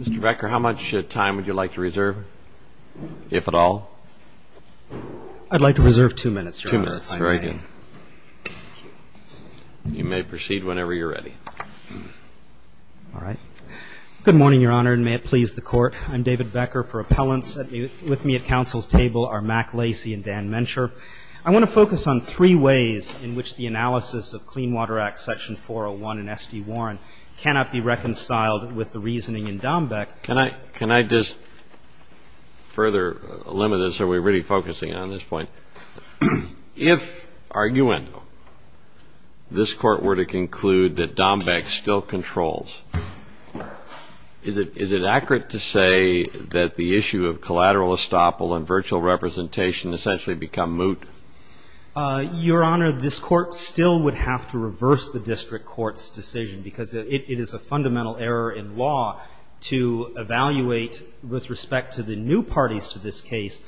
Mr. Becker, how much time would you like to reserve, if at all? I'd like to reserve two minutes, Your Honor. Two minutes, very good. You may proceed whenever you're ready. All right. Good morning, Your Honor, and may it please the Court. I'm David Becker for Appellants. With me at Council's table are Mack Lacy and Dan Mencher. I want to focus on three ways in which the analysis of Clean Water Act Section 401 and S.D. Warren cannot be reconciled with the reasoning in Dombeck. Can I just further limit this? Are we really focusing on this point? If, arguing, this Court were to conclude that Dombeck still controls, is it accurate to say that the issue of collateral estoppel and virtual representation essentially become moot? Your Honor, this Court still would have to reverse the district court's decision because it is a fundamental error in law to evaluate, with respect to the new parties to this case,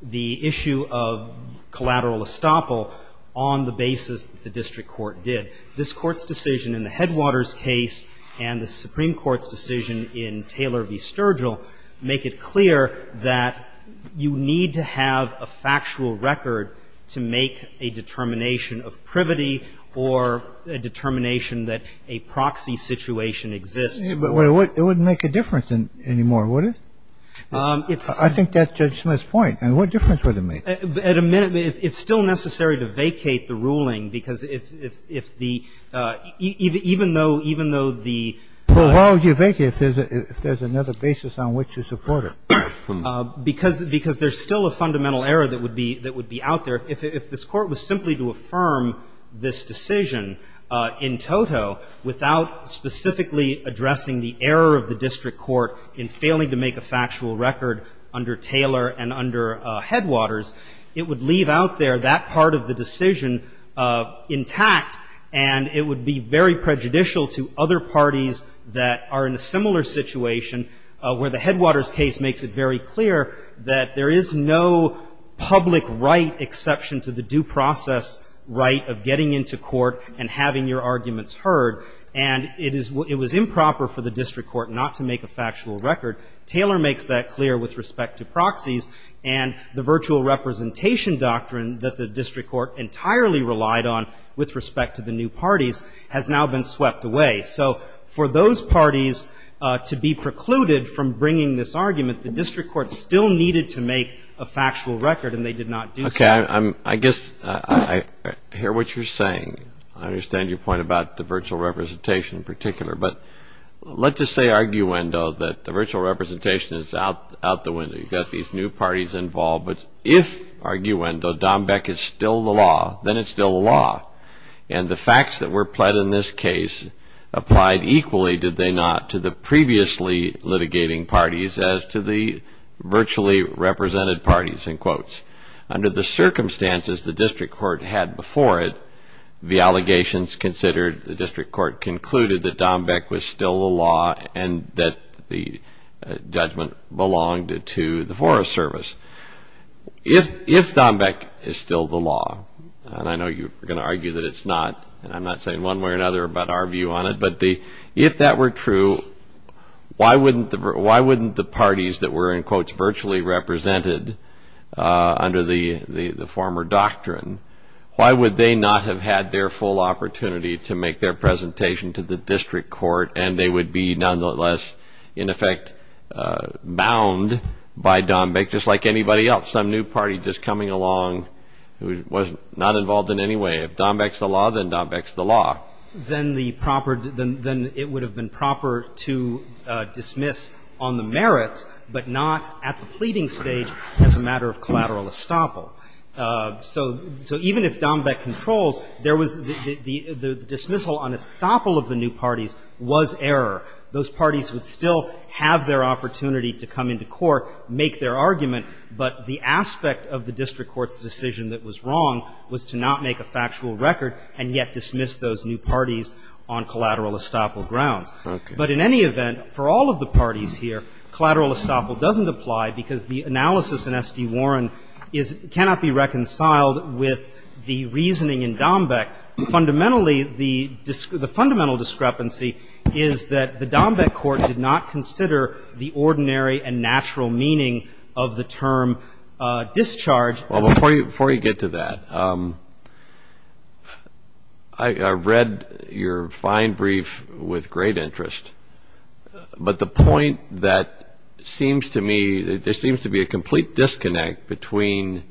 the issue of collateral estoppel on the basis that the district court did. This Court's decision in the Headwaters case and the Supreme Court's decision in Taylor v. Sturgill make it clear that you need to have a factual record to make a determination of privity or a determination that a proxy situation exists. But it wouldn't make a difference anymore, would it? I think that's Judge Smith's point. And what difference would it make? At a minute, it's still necessary to vacate the ruling because if the — even though the — Well, why would you vacate if there's another basis on which to support it? Because there's still a fundamental error that would be out there. If this Court was simply to affirm this decision in toto without specifically addressing the error of the district court in failing to make a factual record under Taylor and under Headwaters, it would leave out there that part of the decision intact, and it would be very prejudicial to other parties that are in a similar situation where the Headwaters case makes it very clear that there is no public right exception to the due process right of getting into court and having your arguments heard. And it is — it was improper for the district court not to make a factual record. Taylor makes that clear with respect to proxies, and the virtual representation doctrine that the district court entirely relied on with respect to the new parties has now been swept away. So for those parties to be precluded from bringing this argument, the district court still needed to make a factual record, and they did not do so. Okay. I guess I hear what you're saying. I understand your point about the virtual representation in particular. But let's just say arguendo that the virtual representation is out the window. You've got these new parties involved. But if, arguendo, Dombeck is still the law, then it's still the law. And the facts that were pled in this case applied equally, did they not, to the previously litigating parties as to the virtually represented parties, in quotes. Under the circumstances the district court had before it, the allegations considered, the district court concluded that Dombeck was still the law and that the judgment belonged to the Forest Service. If Dombeck is still the law, and I know you're going to argue that it's not, and I'm not saying one way or another about our view on it, but if that were true, why wouldn't the parties that were, in quotes, virtually represented under the former doctrine, why would they not have had their full opportunity to make their presentation to the district court and they would be nonetheless, in effect, bound by Dombeck, just like anybody else, some new party just coming along who was not involved in any way. If Dombeck's the law, then Dombeck's the law. Then it would have been proper to dismiss on the merits, but not at the pleading stage as a matter of collateral estoppel. So even if Dombeck controls, the dismissal on estoppel of the new parties was error. Those parties would still have their opportunity to come into court, make their argument, but the aspect of the district court's decision that was wrong was to not make a factual record and yet dismiss those new parties on collateral estoppel grounds. But in any event, for all of the parties here, collateral estoppel doesn't apply because the analysis in S.D. Warren cannot be reconciled with the reasoning in Dombeck. Fundamentally, the fundamental discrepancy is that the Dombeck court did not consider the ordinary and natural meaning of the term discharge. Well, before you get to that, I read your fine brief with great interest, but the point that seems to me that there seems to be a complete disconnect between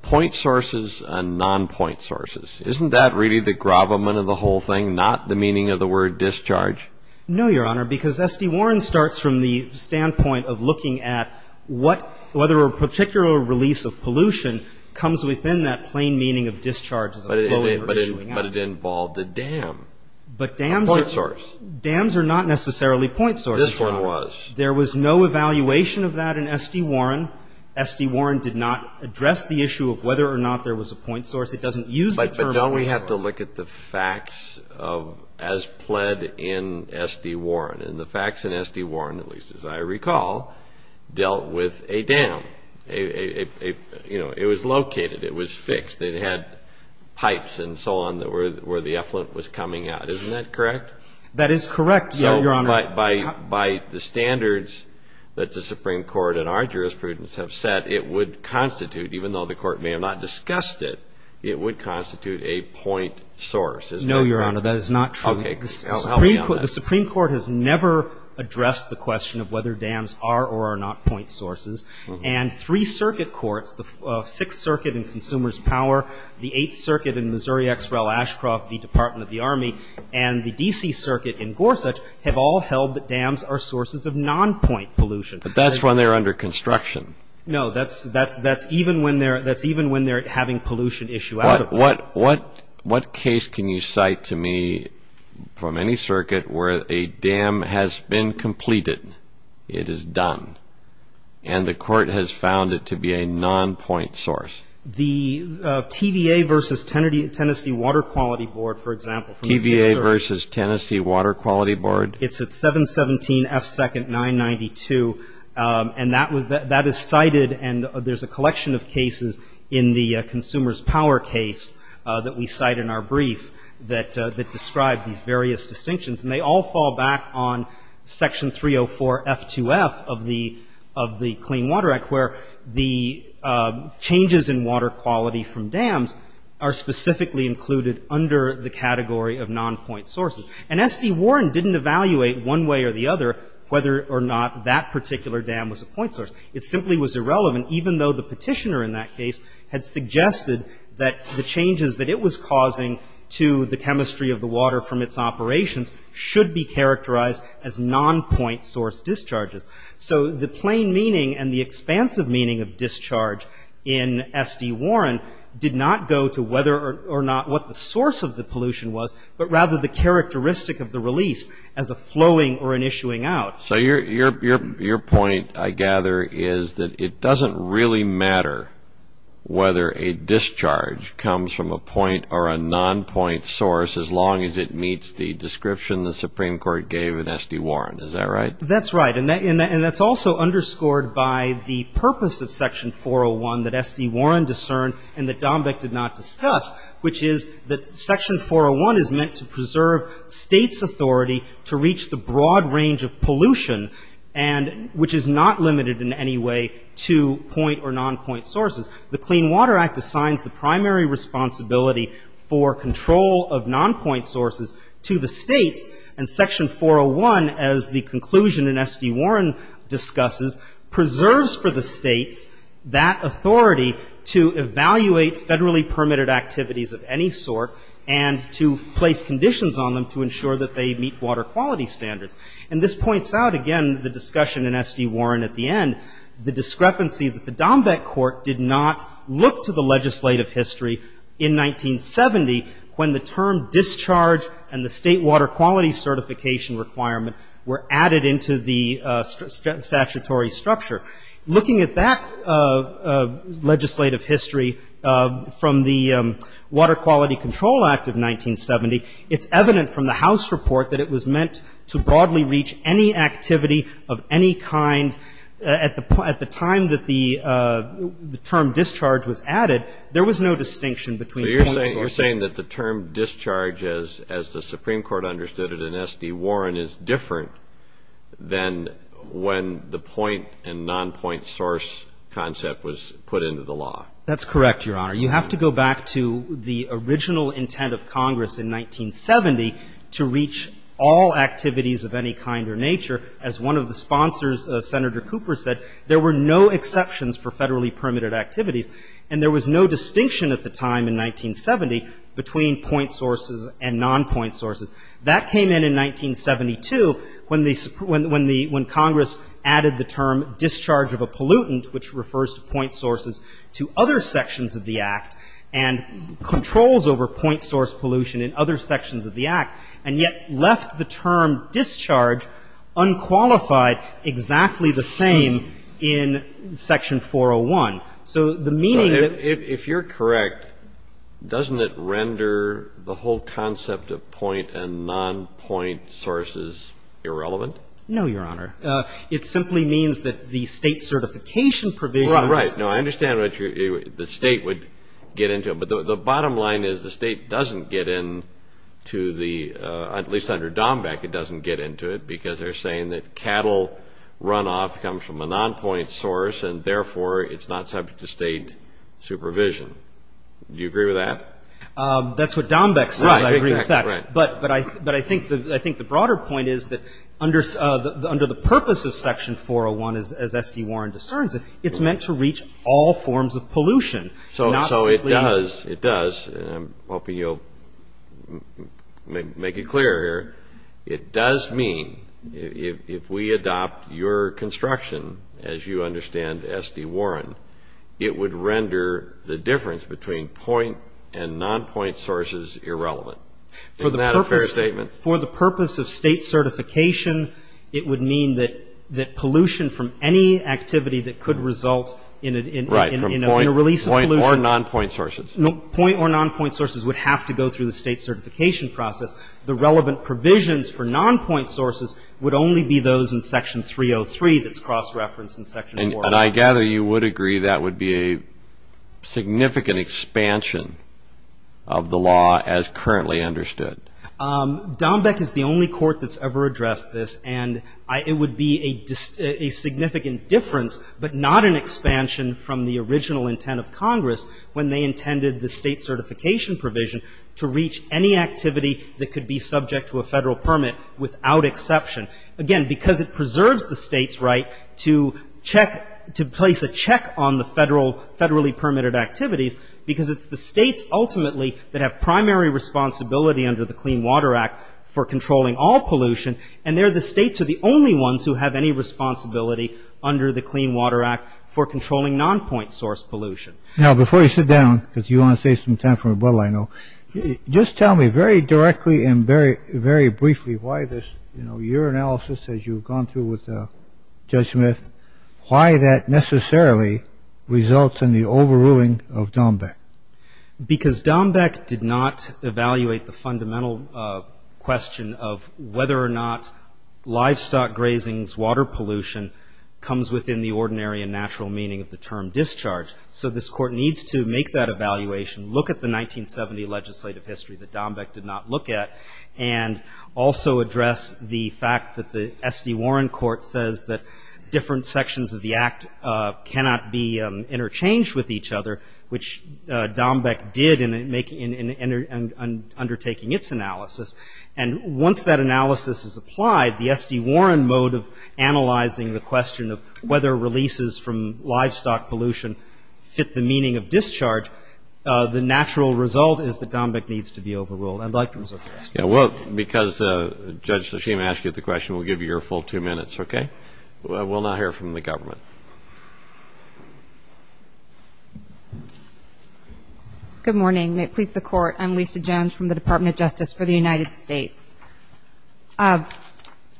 point sources and non-point sources. Isn't that really the gravamen of the whole thing, not the meaning of the word discharge? No, Your Honor, because S.D. Warren starts from the standpoint of looking at whether a particular release of pollution comes within that plain meaning of discharge as a flow over issuing out. But it involved a dam, a point source. But dams are not necessarily point sources, Your Honor. This one was. There was no evaluation of that in S.D. Warren. S.D. Warren did not address the issue of whether or not there was a point source. It doesn't use the term point source. But don't we have to look at the facts as pled in S.D. Warren? And the facts in S.D. Warren, at least as I recall, dealt with a dam. You know, it was located. It was fixed. It had pipes and so on where the effluent was coming out. Isn't that correct? That is correct, Your Honor. By the standards that the Supreme Court and our jurisprudence have set, it would constitute, even though the Court may have not discussed it, it would constitute a point source, isn't that correct? No, Your Honor, that is not true. Okay. Help me on this. The Supreme Court has never addressed the question of whether dams are or are not point sources. And three circuit courts, the Sixth Circuit in Consumers Power, the Eighth Circuit in Missouri X. Rel. Ashcroft v. Department of the Army, and the D.C. Circuit in Gorsuch have all held that dams are sources of non-point pollution. But that's when they're under construction. No, that's even when they're having pollution issue out of them. What case can you cite to me from any circuit where a dam has been completed, it is done, and the Court has found it to be a non-point source? The TVA v. Tennessee Water Quality Board, for example. TVA v. Tennessee Water Quality Board. It's at 717F2992. And that is cited, and there's a collection of cases in the Consumers Power case that we cite in our brief that describe these various distinctions. And they all fall back on Section 304F2F of the Clean Water Act, where the changes in water quality from dams are specifically included under the category of non-point sources. And S.D. Warren didn't evaluate one way or the other whether or not that particular dam was a point source. It simply was irrelevant, even though the petitioner in that case had suggested that the changes that it was causing to the chemistry of the water from its operations should be characterized as non-point source discharges. So the plain meaning and the expansive meaning of discharge in S.D. Warren did not go to whether or not what the source of the pollution was, but rather the characteristic of the release as a flowing or an issuing out. So your point, I gather, is that it doesn't really matter whether a discharge comes from a point or a non-point source as long as it meets the description the Supreme Court gave in S.D. Warren. Is that right? That's right. And that's also underscored by the purpose of Section 401 that S.D. Warren discerned and that Dombek did not discuss, which is that Section 401 is meant to preserve States' authority to reach the broad range of pollution and which is not limited in any way to point or non-point sources. The Clean Water Act assigns the primary responsibility for control of non-point sources to the States, and Section 401, as the conclusion in S.D. Warren discusses, preserves for the States that authority to evaluate federally permitted activities of any sort and to place conditions on them to ensure that they meet water quality standards. And this points out, again, the discussion in S.D. Warren at the end, the discrepancy that the Dombek court did not look to the legislative history in 1970 when the term discharge and the State water quality certification requirement were added into the statutory structure. Looking at that legislative history from the Water Quality Control Act of 1970, it's evident from the House report that it was meant to broadly reach any activity of any kind. At the time that the term discharge was added, there was no distinction between point sources. You're saying that the term discharge, as the Supreme Court understood it in S.D. Warren, is different than when the point and non-point source concept was put into the law. That's correct, Your Honor. You have to go back to the original intent of Congress in 1970 to reach all activities of any kind or nature. As one of the sponsors, Senator Cooper, said, there were no exceptions for federally That came in in 1972 when Congress added the term discharge of a pollutant, which refers to point sources, to other sections of the Act and controls over point source pollution in other sections of the Act, and yet left the term discharge unqualified, exactly the same in Section 401. If you're correct, doesn't it render the whole concept of point and non-point sources irrelevant? No, Your Honor. It simply means that the state certification provision Right. I understand that the state would get into it, but the bottom line is the state doesn't get into the, at least under DOMBEC, it doesn't get into it because they're saying that it's not subject to state supervision. Do you agree with that? That's what DOMBEC said. I agree with that. Right. Exactly. Right. But I think the broader point is that under the purpose of Section 401, as S.D. Warren discerns it, it's meant to reach all forms of pollution, not simply So it does. It does. I'm hoping you'll make it clear here. It does mean if we adopt your construction, as you understand S.D. Warren, it would render the difference between point and non-point sources irrelevant. Isn't that a fair statement? For the purpose of state certification, it would mean that pollution from any activity that could result in a release of pollution Right. From point or non-point sources. Point or non-point sources would have to go through the state certification process. The relevant provisions for non-point sources would only be those in Section 303 that's cross-referenced in Section 401. And I gather you would agree that would be a significant expansion of the law as currently understood. DOMBEC is the only court that's ever addressed this, and it would be a significant difference, but not an expansion from the original intent of Congress when they subject to a federal permit without exception. Again, because it preserves the state's right to check, to place a check on the federally permitted activities, because it's the states ultimately that have primary responsibility under the Clean Water Act for controlling all pollution, and they're the states are the only ones who have any responsibility under the Clean Water Act for controlling non-point source pollution. Now, before you sit down, because you want to save some time for me, well, I know, just tell me very directly and very briefly why this, you know, your analysis as you've gone through with Judge Smith, why that necessarily results in the overruling of DOMBEC? Because DOMBEC did not evaluate the fundamental question of whether or not livestock grazing's water pollution comes within the ordinary and natural meaning of the term discharge. So this Court needs to make that evaluation, look at the 1970 legislative history that DOMBEC did not look at, and also address the fact that the S.D. Warren Court says that different sections of the Act cannot be interchanged with each other, which DOMBEC did in undertaking its analysis. And once that analysis is applied, the S.D. Warren mode of analyzing the question of whether releases from livestock pollution fit the meaning of discharge, the natural result is that DOMBEC needs to be overruled. I'd like to move to the next one. Yeah. Well, because Judge Lasheem asked you the question, we'll give you your full two minutes, okay? We'll now hear from the government. Good morning. May it please the Court. I'm Lisa Jones from the Department of Justice for the United States.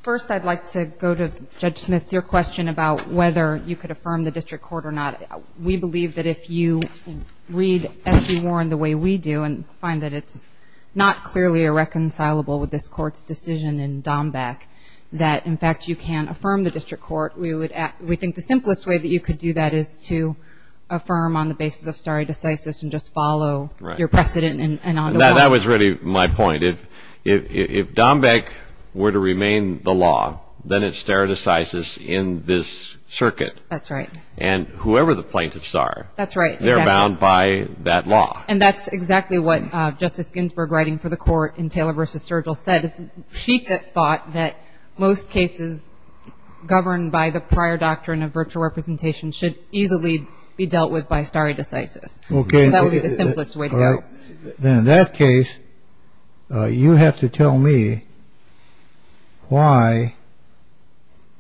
First, I'd like to go to Judge Smith, your question about whether you could affirm the district court or not. We believe that if you read S.D. Warren the way we do and find that it's not clearly irreconcilable with this Court's decision in DOMBEC, that, in fact, you can affirm the district court. We think the simplest way that you could do that is to affirm on the basis of stare decisis and just follow your precedent. Right. That was really my point. If DOMBEC were to remain the law, then it's stare decisis in this circuit. That's right. And whoever the plaintiffs are, they're bound by that law. And that's exactly what Justice Ginsburg, writing for the Court in Taylor v. Sergel, said. She thought that most cases governed by the prior doctrine of virtual representation should easily be dealt with by stare decisis. Okay. That would be the simplest way to go. In that case, you have to tell me why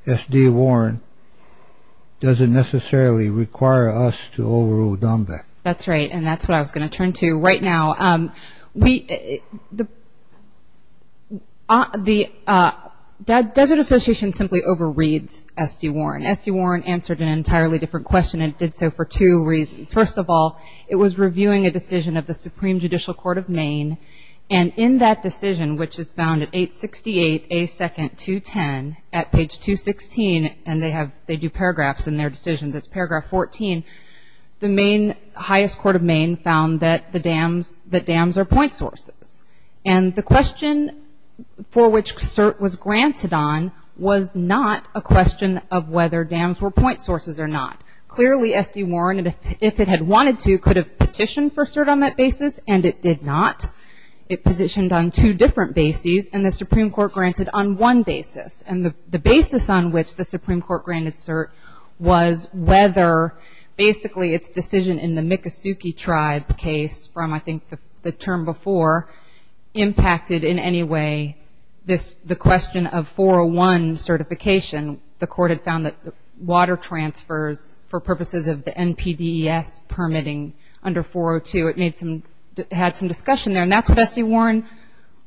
S.D. Warren doesn't necessarily require us to overrule DOMBEC. That's right, and that's what I was going to turn to right now. The Desert Association simply overreads S.D. Warren. S.D. Warren answered an entirely different question, and it did so for two reasons. First of all, it was reviewing a decision of the Supreme Judicial Court of Maine, and in that decision, which is found at 868A210 at page 216, and they do paragraphs in their decision that's paragraph 14, the highest court of Maine found that dams are point sources. And the question for which cert was granted on was not a question of whether dams were point sources or not. Clearly, S.D. Warren, if it had wanted to, could have petitioned for cert on that basis, and it did not. It positioned on two different bases, and the Supreme Court granted on one basis. And the basis on which the Supreme Court granted cert was whether basically its decision in the Miccosukee Tribe case from, I think, the term before, impacted in any way the question of 401 certification. The court had found that water transfers for purposes of the NPDES permitting under 402, it had some discussion there, and that's what S.D. Warren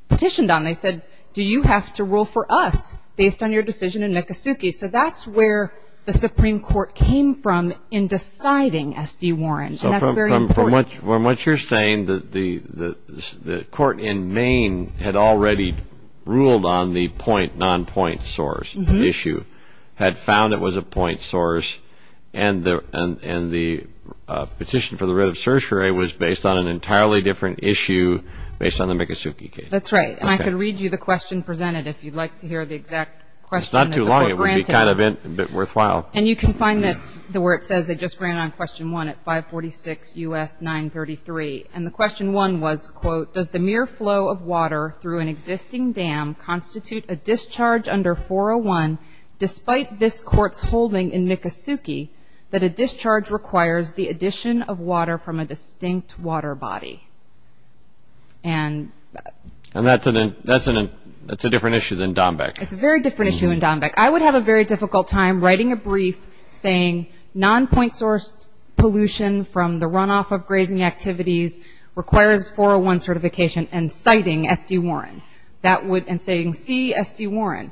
petitioned on. They said, Do you have to rule for us based on your decision in Miccosukee? So that's where the Supreme Court came from in deciding S.D. Warren, and that's very important. And from what you're saying, the court in Maine had already ruled on the point, non-point source issue, had found it was a point source, and the petition for the writ of certiorari was based on an entirely different issue based on the Miccosukee case. That's right. And I can read you the question presented if you'd like to hear the exact question that the court granted. It's not too long. It would be kind of worthwhile. And you can find this where it says they just granted on question one at 546 U.S. 933. And the question one was, quote, Does the mere flow of water through an existing dam constitute a discharge under 401, despite this court's holding in Miccosukee, that a discharge requires the addition of water from a distinct water body? And that's a different issue than Dombek. It's a very different issue than Dombek. I would have a very difficult time writing a brief saying non-point sourced pollution from the runoff of grazing activities requires 401 certification and citing S.D. Warren, and saying see S.D. Warren.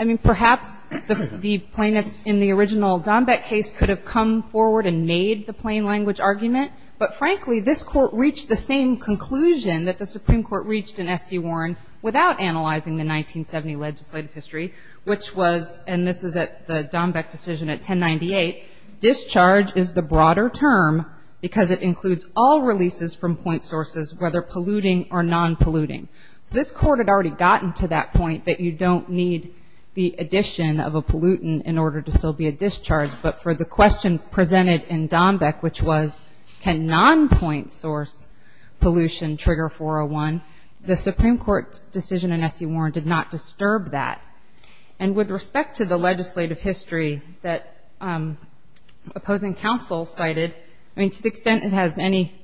I mean, perhaps the plaintiffs in the original Dombek case could have come forward and made the plain language argument, but frankly this court reached the same conclusion that the Supreme Court reached in S.D. Warren without analyzing the 1970 legislative history, which was, and this is at the Dombek decision at 1098, discharge is the broader term because it includes all releases from point sources, whether polluting or non-polluting. So this court had already gotten to that point that you don't need the addition of a pollutant in order to still be a discharge, but for the question presented in Dombek, which was can non-point source pollution trigger 401, the Supreme Court's decision in S.D. Warren did not disturb that. And with respect to the legislative history that opposing counsel cited, to the extent it has any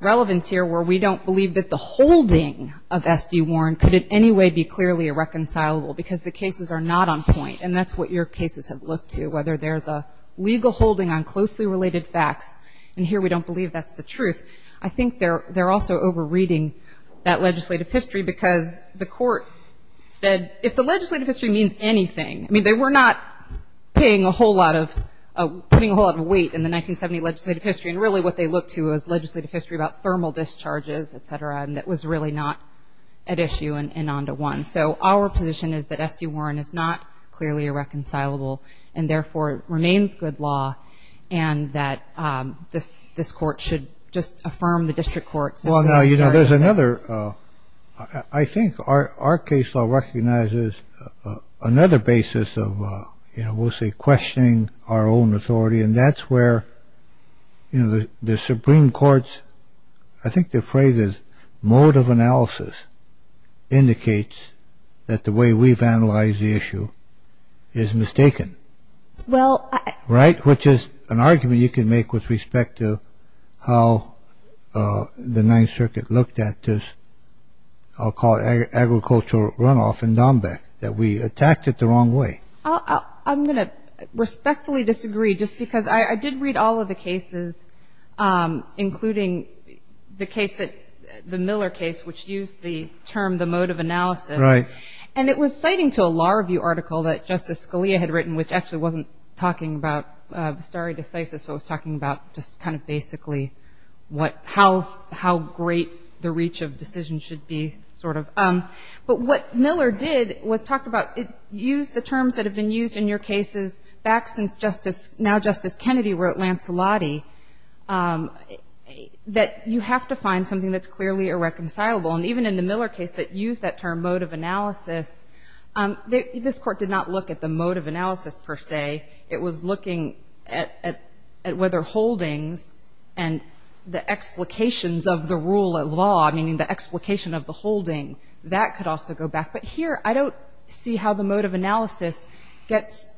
relevance here where we don't believe that the holding of S.D. Warren could in any way be clearly irreconcilable because the cases are not on point, and that's what your cases have looked to, whether there's a legal holding on closely related facts, and here we don't believe that's the truth. I think they're also over-reading that legislative history because the court said, if the legislative history means anything, I mean they were not putting a whole lot of weight in the 1970 legislative history, and really what they looked to was legislative history about thermal discharges, et cetera, and that was really not at issue and on to one. So our position is that S.D. Warren is not clearly irreconcilable and therefore remains good law and that this court should just affirm the district courts. Well, now, you know, there's another, I think our case law recognizes another basis of, you know, we'll say questioning our own authority, and that's where, you know, the Supreme Court's, I think the phrase is mode of analysis indicates that the way we've analyzed the issue is mistaken. Right? Which is an argument you can make with respect to how the Ninth Circuit looked at this, I'll call it agricultural runoff in Dombek, that we attacked it the wrong way. I'm going to respectfully disagree just because I did read all of the cases, including the case that the Miller case, which used the term the mode of analysis. Right. And it was citing to a law review article that Justice Scalia had written, which actually wasn't talking about the stare decisis, but was talking about just kind of basically how great the reach of decisions should be, sort of. But what Miller did was talk about, it used the terms that have been used in your cases back since Justice, now Justice Kennedy wrote Lancelotti, that you have to find something that's clearly irreconcilable. And even in the Miller case that used that term mode of analysis, this court did not look at the mode of analysis per se. It was looking at whether holdings and the explications of the rule of law, meaning the explication of the holding, that could also go back. But here, I don't see how the mode of analysis gets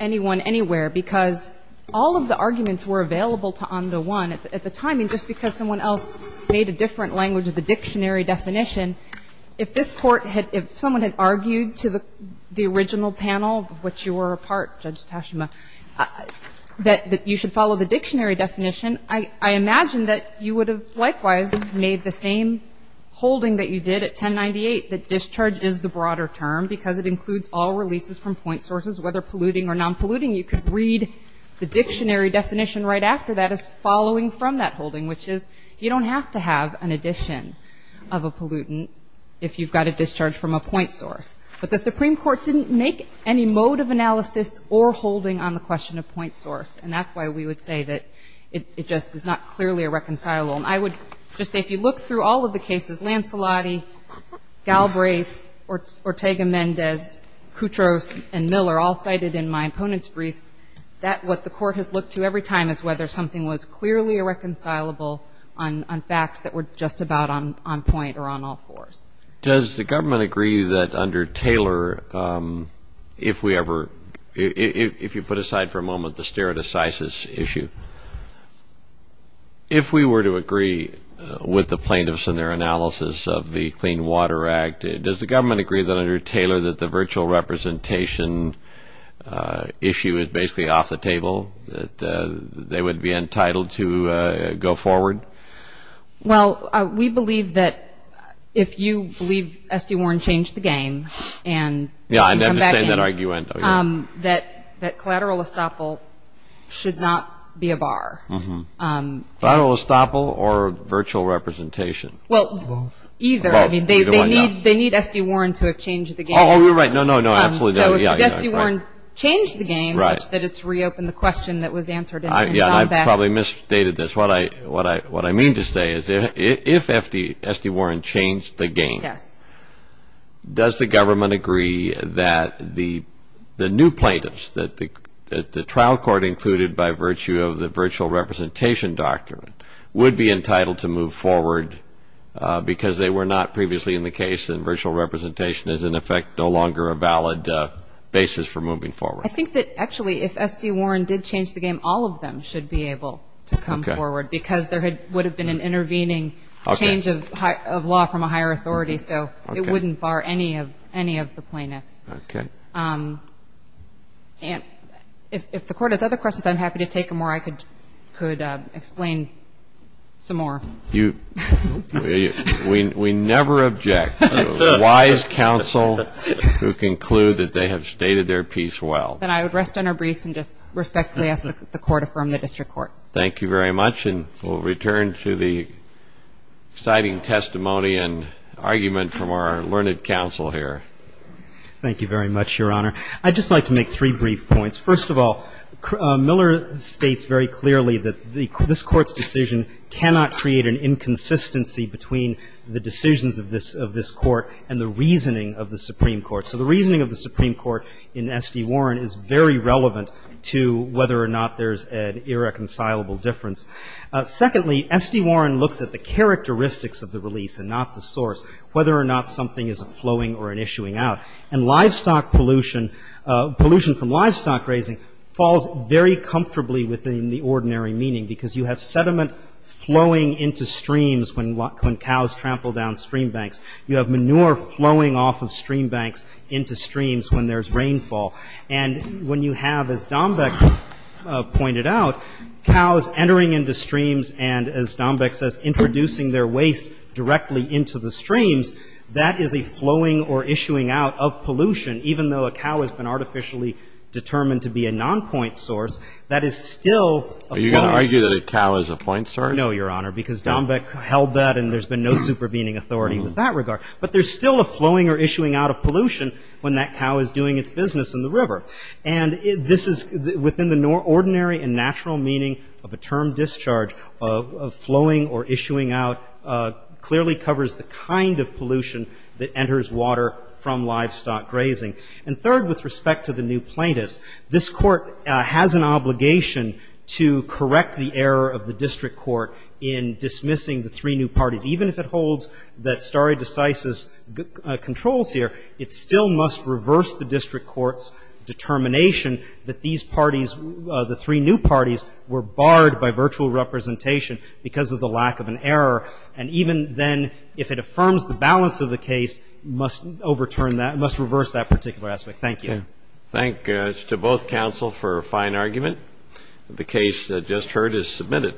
anyone anywhere, because all of the arguments were available to on the one. At the time, I mean, just because someone else made a different language of the dictionary definition, if this Court had, if someone had argued to the original panel, of which you were a part, Judge Tashima, that you should follow the dictionary definition, I imagine that you would have likewise made the same holding that you did at 1098, that discharge is the broader term, because it includes all releases from point sources, whether polluting or non-polluting. You could read the dictionary definition right after that as following from that holding, which is, you don't have to have an addition of a pollutant if you've got a discharge from a point source. But the Supreme Court didn't make any mode of analysis or holding on the question of point source. And that's why we would say that it just is not clearly a reconcilable. And I would just say, if you look through all of the cases, Lancelotti, Galbraith, Ortega-Mendez, Koutros, and Miller, all cited in my opponents' briefs, that what the Court has looked to every time is whether something was clearly irreconcilable on facts that were just about on point or on all fours. Does the government agree that under Taylor, if we ever, if you put aside for a moment the stereo-decisis issue, if we were to agree with the plaintiffs in their analysis of the Clean Water Act, does the government agree that under Taylor that the virtual representation issue is basically off the table, that they would be entitled to go forward? Well, we believe that if you believe S.D. Warren changed the game and come back in, that collateral estoppel should not be a bar. Collateral estoppel or virtual representation? Well, either. I mean, they need S.D. Warren to have changed the game. Oh, you're right. No, no, no, absolutely. So if S.D. Warren changed the game such that it's reopened the question that was answered and gone back. Yeah, I probably misstated this. What I mean to say is if S.D. Warren changed the game, does the government agree that the new plaintiffs, that the trial court included by virtue of the virtual representation document, would be entitled to move forward because they were not previously in the case and virtual representation is, in effect, no longer a valid basis for moving forward? I think that, actually, if S.D. Warren did change the game, all of them should be able to come forward because there would have been an intervening change of law from a higher authority, so it wouldn't bar any of the plaintiffs. Okay. If the Court has other questions, I'm happy to take them or I could explain some more. We never object to a wise counsel who can conclude that they have stated their piece well. Then I would rest on our briefs and just respectfully ask that the Court affirm the district court. Thank you very much, and we'll return to the exciting testimony and argument from our learned counsel here. Thank you very much, Your Honor. I'd just like to make three brief points. First of all, Miller states very clearly that this Court's decision cannot create an inconsistency between the decisions of this Court and the reasoning of the Supreme Court. So the reasoning of the Supreme Court in S.D. Warren is very relevant to whether or not there's an irreconcilable difference. Secondly, S.D. Warren looks at the characteristics of the release and not the source, whether or not something is a flowing or an issuing out. And livestock pollution, pollution from livestock raising, falls very comfortably within the ordinary meaning because you have sediment flowing into streams when cows trample down stream banks. You have manure flowing off of stream banks into streams when there's rainfall. And when you have, as Dombek pointed out, cows entering into streams and, as Dombek says, introducing their waste directly into the streams, that is a flowing or issuing out of pollution, even though a cow has been artificially determined to be a nonpoint source, that is still a point source. Are you going to argue that a cow is a point source? No, Your Honor, because Dombek held that, and there's been no supervening authority with that regard. But there's still a flowing or issuing out of pollution when that cow is doing its business, in the river. And this is within the ordinary and natural meaning of a term discharge, of flowing or issuing out, clearly covers the kind of pollution that enters water from livestock grazing. And third, with respect to the new plaintiffs, this Court has an obligation to correct the error of the district court in dismissing the three new parties. Even if it holds that stare decisis controls here, it still must reverse the district court's determination that these parties, the three new parties, were barred by virtual representation because of the lack of an error. And even then, if it affirms the balance of the case, must overturn that, must reverse that particular aspect. Thank you. Thank you to both counsel for a fine argument. The case just heard is submitted.